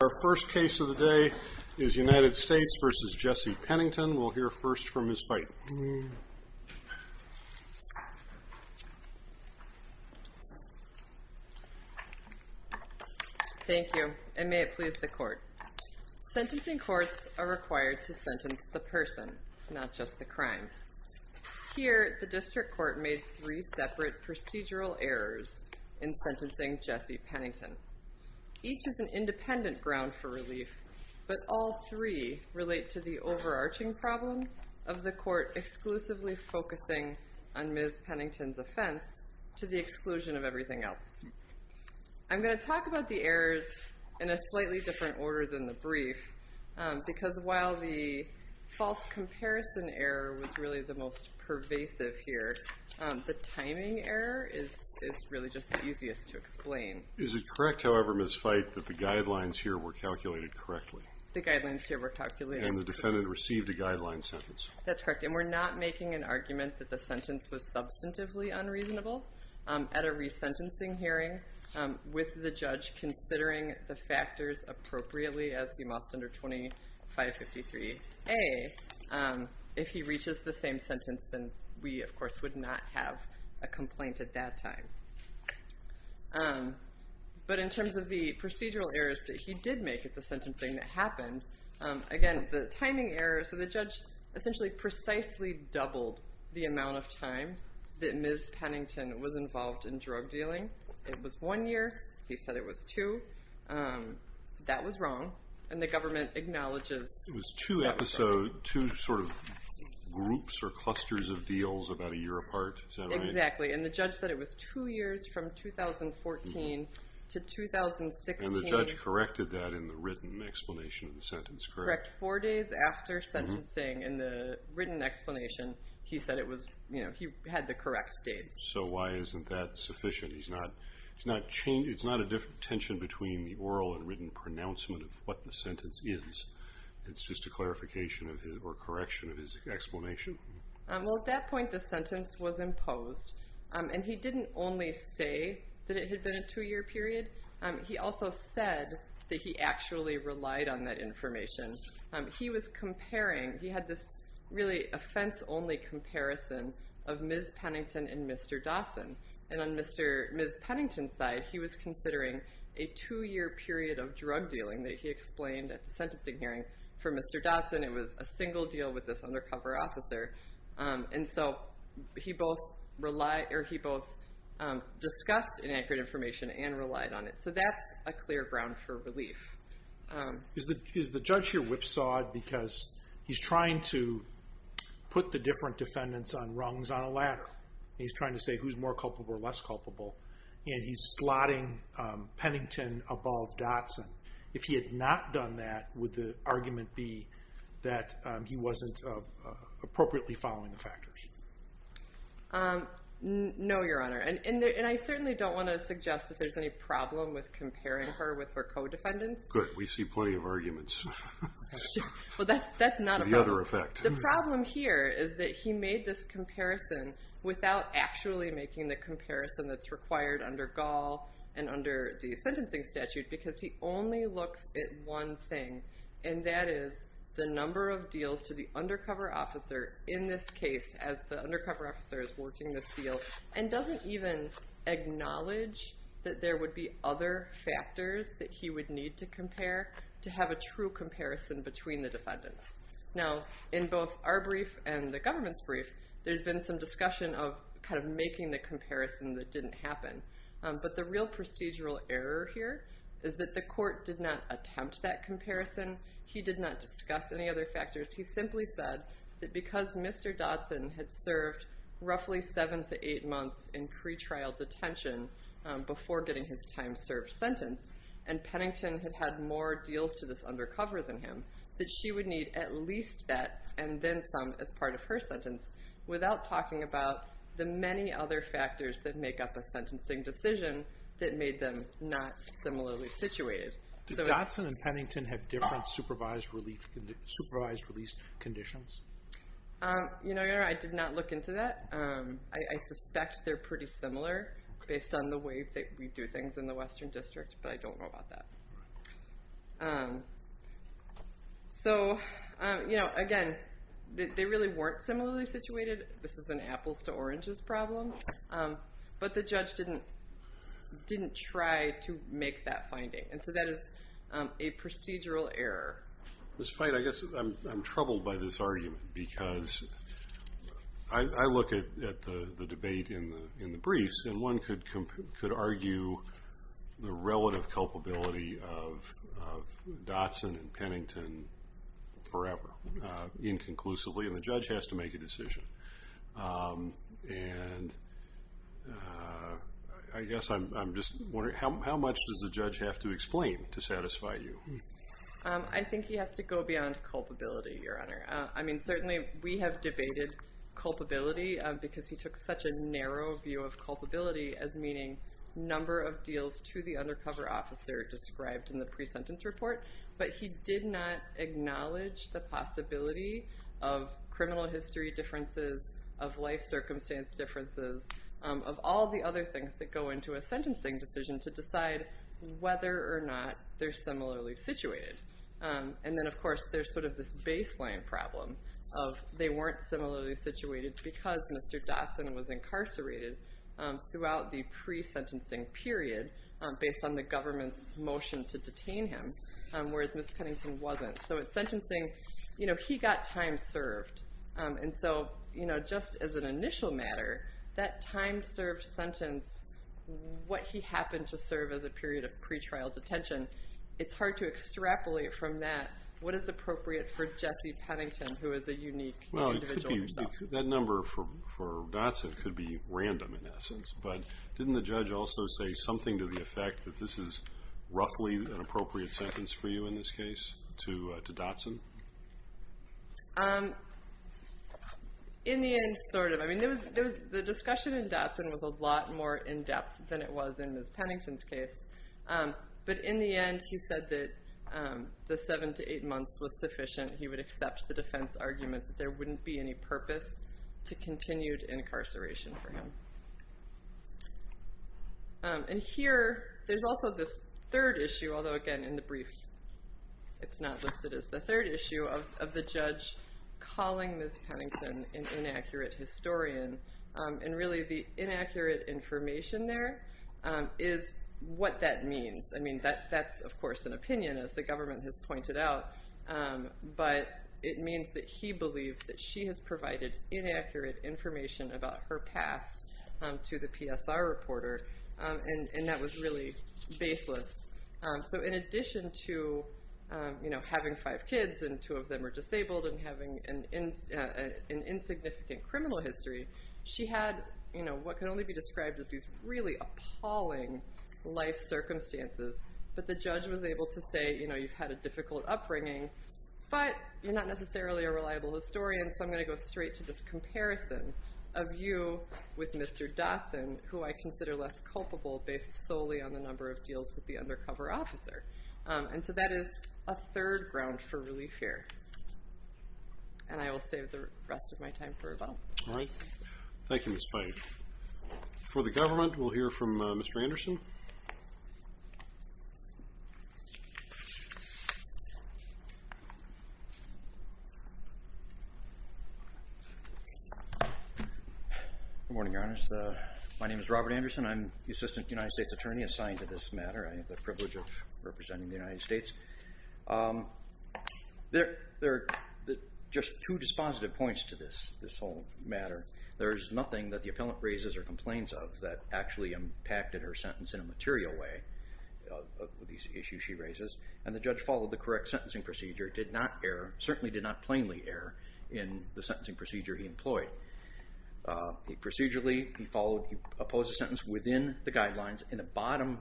Our first case of the day is United States v. Jesse Pennington. We'll hear first from Ms. Bighton. Thank you, and may it please the Court. Sentencing courts are required to sentence the person, not just the crime. Here, the District Court made three separate procedural errors in sentencing Jesse Pennington. Each is an independent ground for relief, but all three relate to the overarching problem of the Court exclusively focusing on Ms. Pennington's offense to the exclusion of everything else. I'm going to talk about the errors in a slightly different order than the brief, because while the false comparison error was really the most pervasive here, the timing error is really just the easiest to explain. Is it correct, however, Ms. Bighton, that the guidelines here were calculated correctly? The guidelines here were calculated correctly. And the defendant received a guideline sentence? That's correct, and we're not making an argument that the sentence was substantively unreasonable. At a resentencing hearing, with the judge considering the factors appropriately, as you must under 2553A, if he reaches the same sentence, then we, of course, would not have a complaint at that time. But in terms of the procedural errors that he did make at the sentencing that happened, again, the timing error, so the judge essentially precisely doubled the amount of time that Ms. Pennington was involved in drug dealing. It was one year. He said it was two. That was wrong, and the government acknowledges that was wrong. It was two episodes, two sort of groups or clusters of deals about a year apart. Is that right? Exactly, and the judge said it was two years from 2014 to 2016. And the judge corrected that in the written explanation of the sentence, correct? Correct. Four days after sentencing, in the written explanation, he said he had the correct dates. So why isn't that sufficient? It's not a tension between the oral and written pronouncement of what the sentence is. It's just a clarification or correction of his explanation? Well, at that point, the sentence was imposed, and he didn't only say that it had been a two-year period. He also said that he actually relied on that information. He was comparing. He had this really offense-only comparison of Ms. Pennington and Mr. Dotson, and on Ms. Pennington's side, he was considering a two-year period of drug dealing that he explained at the sentencing hearing for Mr. Dotson. It was a single deal with this undercover officer, and so he both discussed inaccurate information and relied on it. So that's a clear ground for relief. Is the judge here whipsawed because he's trying to put the different defendants on rungs on a ladder? He's trying to say who's more culpable or less culpable, and he's slotting Pennington above Dotson. If he had not done that, would the argument be that he wasn't appropriately following the factors? No, Your Honor, and I certainly don't want to suggest that there's any problem with comparing her with her co-defendants. Good. We see plenty of arguments. Well, that's not a problem. The other effect. The problem here is that he made this comparison without actually making the comparison that's required under Gaul and under the sentencing statute because he only looks at one thing, and that is the number of deals to the undercover officer in this case as the undercover officer is working this deal and doesn't even acknowledge that there would be other factors that he would need to compare to have a true comparison between the defendants. Now, in both our brief and the government's brief, there's been some discussion of kind of making the comparison that didn't happen, but the real procedural error here is that the court did not attempt that comparison. He did not discuss any other factors. He simply said that because Mr. Dotson had served roughly seven to eight months in pretrial detention before getting his time served sentence and Pennington had had more deals to this undercover than him, that she would need at least that and then some as part of her sentence without talking about the many other factors that make up a sentencing decision that made them not similarly situated. Did Dotson and Pennington have different supervised release conditions? You know, I did not look into that. I suspect they're pretty similar based on the way that we do things in the Western District, but I don't know about that. So, you know, again, they really weren't similarly situated. This is an apples to oranges problem, but the judge didn't try to make that finding, and so that is a procedural error. This fight, I guess I'm troubled by this argument because I look at the debate in the briefs, and one could argue the relative culpability of Dotson and Pennington forever, inconclusively, and the judge has to make a decision. And I guess I'm just wondering, how much does the judge have to explain to satisfy you? I think he has to go beyond culpability, Your Honor. I mean, certainly we have debated culpability because he took such a narrow view of culpability as meaning number of deals to the undercover officer described in the pre-sentence report, but he did not acknowledge the possibility of criminal history differences, of life circumstance differences, of all the other things that go into a sentencing decision to decide whether or not they're similarly situated. And then, of course, there's sort of this baseline problem of they weren't similarly situated because Mr. Dotson was incarcerated throughout the pre-sentencing period based on the government's motion to detain him, whereas Ms. Pennington wasn't. So in sentencing, he got time served, and so just as an initial matter, that time served sentence, what he happened to serve as a period of pretrial detention, it's hard to extrapolate from that what is appropriate for Jesse Pennington, who is a unique individual himself. Well, that number for Dotson could be random in essence, but didn't the judge also say something to the effect that this is roughly an appropriate sentence for you in this case to Dotson? In the end, sort of. I mean, the discussion in Dotson was a lot more in-depth than it was in Ms. Pennington's case, but in the end, he said that the seven to eight months was sufficient. He would accept the defense argument that there wouldn't be any purpose to continued incarceration for him. And here, there's also this third issue, although again in the brief, it's not listed as the third issue, of the judge calling Ms. Pennington an inaccurate historian, and really the inaccurate information there is what that means. I mean, that's of course an opinion, as the government has pointed out, but it means that he believes that she has provided inaccurate information about her past to the PSR reporter, and that was really baseless. So in addition to having five kids, and two of them are disabled, and having an insignificant criminal history, she had what can only be described as these really appalling life circumstances, but the judge was able to say, you know, you've had a difficult upbringing, but you're not necessarily a reliable historian, so I'm going to go straight to this comparison of you with Mr. Dotson, who I consider less culpable based solely on the number of deals with the undercover officer. And so that is a third ground for relief here. And I will save the rest of my time for rebuttal. All right. Thank you, Ms. Pennington. For the government, we'll hear from Mr. Anderson. Good morning, Your Honor. My name is Robert Anderson. I'm the Assistant United States Attorney assigned to this matter. I have the privilege of representing the United States. There are just two dispositive points to this whole matter. There is nothing that the appellant raises or complains of that actually impacted her sentence in a material way, these issues she raises, and the judge followed the correct sentencing procedure, did not err, certainly did not plainly err, in the sentencing procedure he employed. Procedurally, he opposed the sentence within the guidelines, in the bottom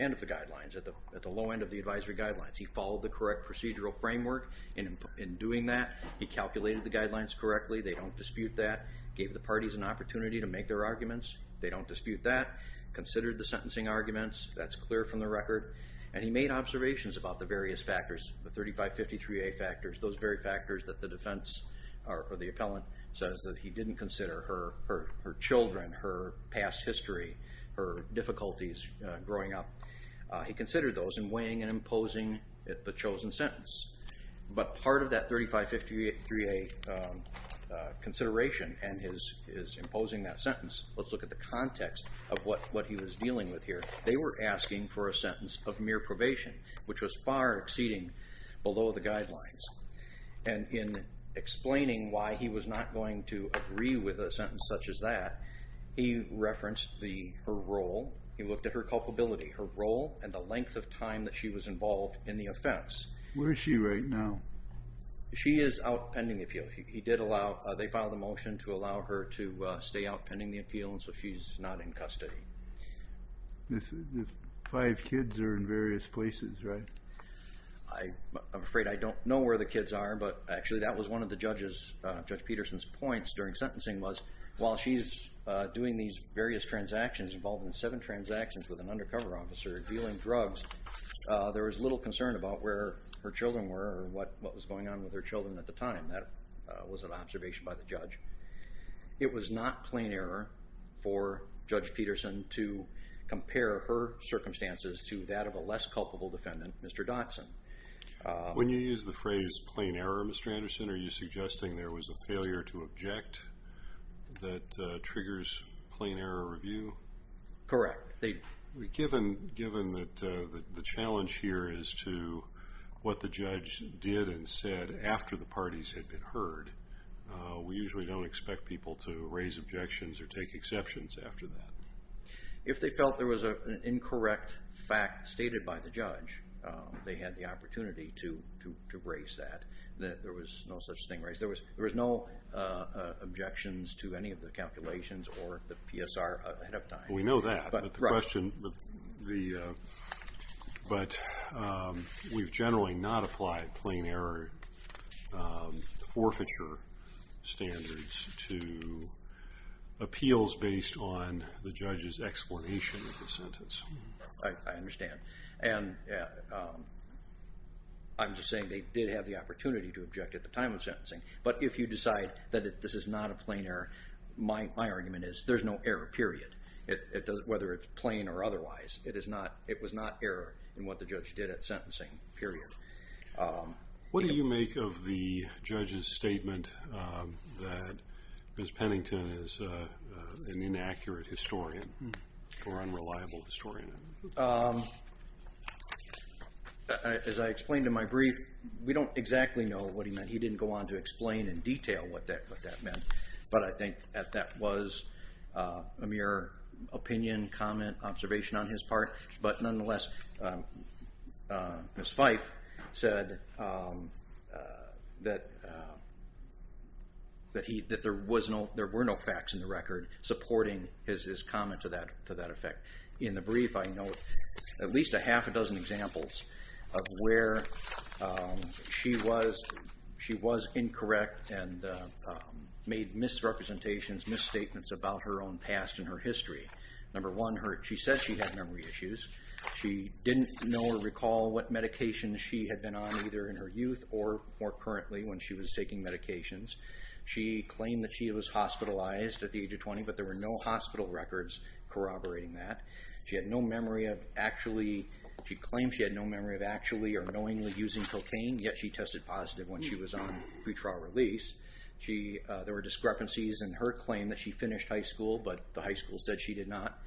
end of the guidelines, at the low end of the advisory guidelines. He followed the correct procedural framework in doing that. He calculated the guidelines correctly. They don't dispute that. Gave the parties an opportunity to make their arguments. They don't dispute that. Considered the sentencing arguments. That's clear from the record. And he made observations about the various factors, the 3553A factors, those very factors that the defense or the appellant says that he didn't consider her children, her past history, her difficulties growing up. He considered those in weighing and imposing the chosen sentence. But part of that 3553A consideration and his imposing that sentence, let's look at the context of what he was dealing with here. They were asking for a sentence of mere probation, which was far exceeding below the guidelines. And in explaining why he was not going to agree with a sentence such as that, he referenced her role. He looked at her culpability, her role, and the length of time that she was involved in the offense. Where is she right now? She is out pending the appeal. They filed a motion to allow her to stay out pending the appeal, and so she's not in custody. The five kids are in various places, right? I'm afraid I don't know where the kids are, but actually that was one of Judge Peterson's points during sentencing was that while she's doing these various transactions, involving seven transactions with an undercover officer, dealing drugs, there was little concern about where her children were or what was going on with her children at the time. That was an observation by the judge. It was not plain error for Judge Peterson to compare her circumstances to that of a less culpable defendant, Mr. Dotson. When you use the phrase plain error, Mr. Anderson, are you suggesting there was a failure to object that triggers plain error review? Correct. Given that the challenge here is to what the judge did and said after the parties had been heard, we usually don't expect people to raise objections or take exceptions after that. If they felt there was an incorrect fact stated by the judge, they had the opportunity to raise that. There was no such thing raised. There was no objections to any of the calculations or the PSR ahead of time. We know that, but we've generally not applied plain error forfeiture standards to appeals based on the judge's explanation of the sentence. I understand. I'm just saying they did have the opportunity to object at the time of sentencing, but if you decide that this is not a plain error, my argument is there's no error, period, whether it's plain or otherwise. It was not error in what the judge did at sentencing, period. What do you make of the judge's statement that Ms. Pennington is an inaccurate historian or unreliable historian? As I explained in my brief, we don't exactly know what he meant. He didn't go on to explain in detail what that meant, but I think that that was a mere opinion, comment, observation on his part. But nonetheless, Ms. Fife said that there were no facts in the record supporting his comment to that effect. In the brief, I note at least a half a dozen examples of where she was incorrect and made misrepresentations, misstatements about her own past and her history. Number one, she said she had memory issues. She didn't know or recall what medications she had been on either in her youth or more currently when she was taking medications. She claimed that she was hospitalized at the age of 20, but there were no hospital records corroborating that. She claimed she had no memory of actually or knowingly using cocaine, yet she tested positive when she was on pre-trial release. There were discrepancies in her claim that she finished high school, but the high school said she did not.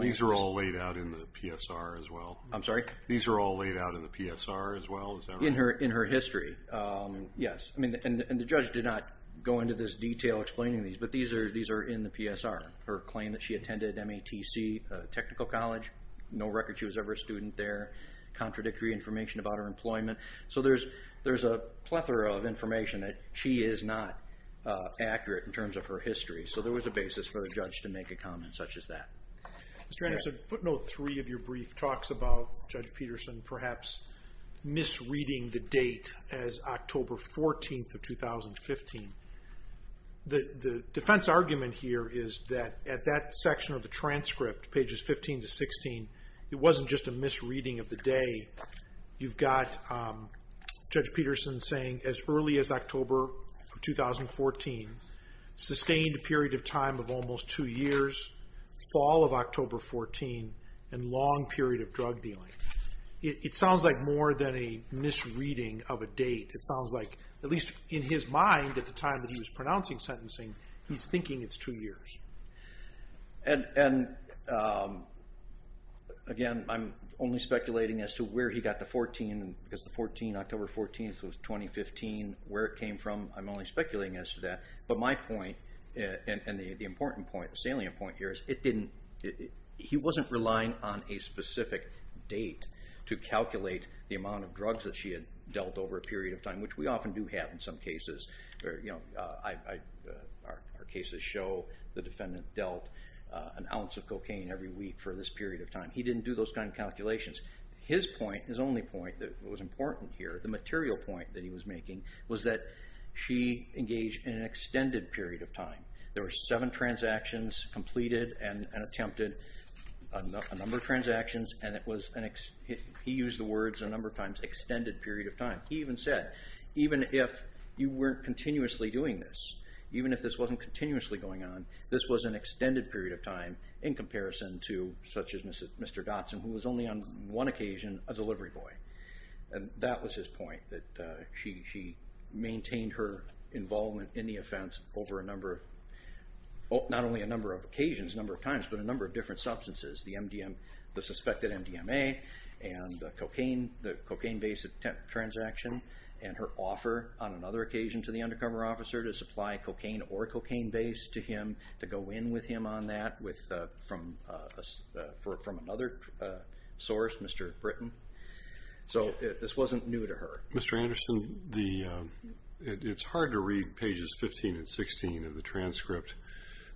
These are all laid out in the PSR as well? I'm sorry? These are all laid out in the PSR as well? In her history, yes. And the judge did not go into this detail explaining these, but these are in the PSR. Her claim that she attended MATC Technical College, no record she was ever a student there, contradictory information about her employment. So there's a plethora of information that she is not accurate in terms of her history. So there was a basis for the judge to make a comment such as that. Mr. Anderson, footnote three of your brief talks about Judge Peterson perhaps misreading the date as October 14th of 2015. The defense argument here is that at that section of the transcript, pages 15 to 16, it wasn't just a misreading of the day. You've got Judge Peterson saying as early as October 2014, sustained a period of time of almost two years, fall of October 14, and long period of drug dealing. It sounds like more than a misreading of a date. It sounds like, at least in his mind at the time that he was pronouncing sentencing, he's thinking it's two years. And, again, I'm only speculating as to where he got the 14, because the 14, October 14th was 2015, where it came from. I'm only speculating as to that. But my point, and the important point, the salient point here, is he wasn't relying on a specific date to calculate the amount of drugs that she had dealt over a period of time, which we often do have in some cases. Our cases show the defendant dealt an ounce of cocaine every week for this period of time. He didn't do those kind of calculations. His point, his only point that was important here, the material point that he was making, was that she engaged in an extended period of time. There were seven transactions completed and attempted, a number of transactions, and he used the words a number of times, extended period of time. He even said, even if you weren't continuously doing this, even if this wasn't continuously going on, this was an extended period of time in comparison to, such as Mr. Dotson, who was only on one occasion a delivery boy. That was his point, that she maintained her involvement in the offense over a number of, not only a number of occasions, a number of times, but a number of different substances, the MDMA, the suspected MDMA, and the cocaine base attempt transaction, and her offer on another occasion to the undercover officer to supply cocaine or cocaine base to him, to go in with him on that from another source, Mr. Britton. So this wasn't new to her. Mr. Anderson, it's hard to read pages 15 and 16 of the transcript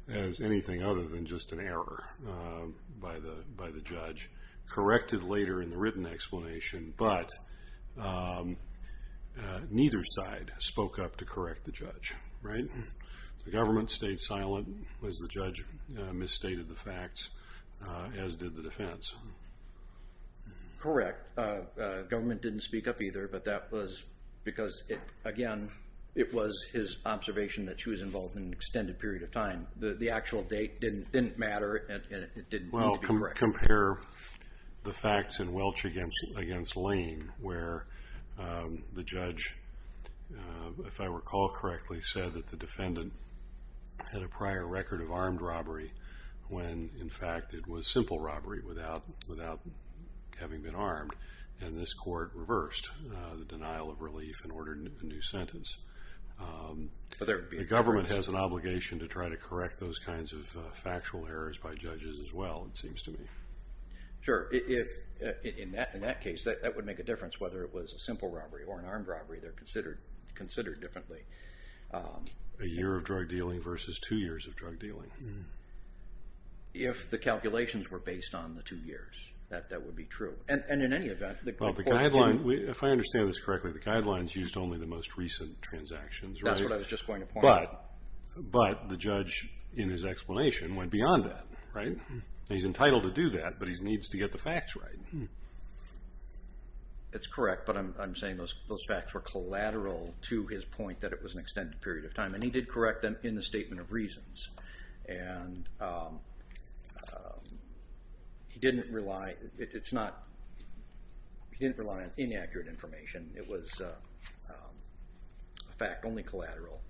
as anything other than just an error by the judge, corrected later in the written explanation, but neither side spoke up to correct the judge, right? The government stayed silent as the judge misstated the facts, as did the defense. Correct. Government didn't speak up either, but that was because, again, it was his observation that she was involved in an extended period of time. The actual date didn't matter, and it didn't need to be corrected. Well, compare the facts in Welch against Lane, where the judge, if I recall correctly, said that the defendant had a prior record of armed robbery when, in fact, it was simple robbery without having been armed, and this court reversed the denial of relief and ordered a new sentence. The government has an obligation to try to correct those kinds of factual errors by judges as well, it seems to me. In that case, that would make a difference, whether it was a simple robbery or an armed robbery. They're considered differently. A year of drug dealing versus two years of drug dealing. If the calculations were based on the two years, that would be true. And in any event, the court didn't. If I understand this correctly, the guidelines used only the most recent transactions, right? That's what I was just going to point out. But the judge, in his explanation, went beyond that, right? He's entitled to do that, but he needs to get the facts right. It's correct, but I'm saying those facts were collateral to his point that it was an extended period of time, and he did correct them in the statement of reasons. And he didn't rely on inaccurate information. It was a fact, only collateral.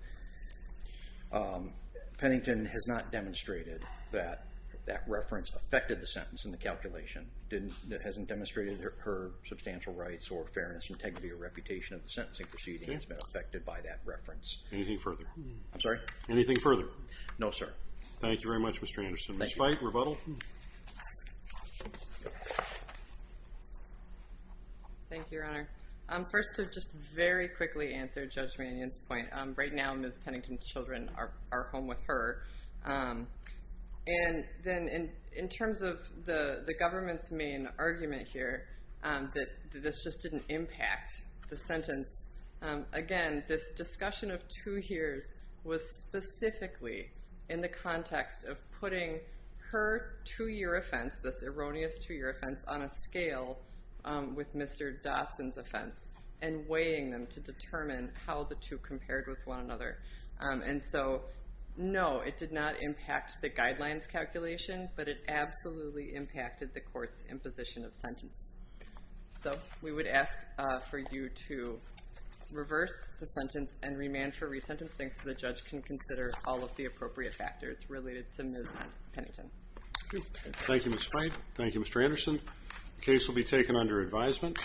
Pennington has not demonstrated that that reference affected the sentence in the calculation. It hasn't demonstrated her substantial rights or fairness, integrity, or reputation of the sentencing proceeding. It's been affected by that reference. Anything further? I'm sorry? Anything further? No, sir. Thank you very much, Mr. Anderson. Ms. Veit, rebuttal? Thank you, Your Honor. First, to just very quickly answer Judge Mannion's point, right now, Ms. Pennington's children are home with her. And then, in terms of the government's main argument here, that this just didn't impact the sentence, again, this discussion of two years was specifically in the context of putting her two-year offense, this erroneous two-year offense, on a scale with Mr. Dodson's offense, and weighing them to determine how the two compared with one another. And so, no, it did not impact the guidelines calculation, but it absolutely impacted the court's imposition of sentence. So we would ask for you to reverse the sentence and remand for resentencing so the judge can consider all of the appropriate factors related to Ms. Pennington. Thank you, Ms. Veit. Thank you, Mr. Anderson. The case will be taken under advisement.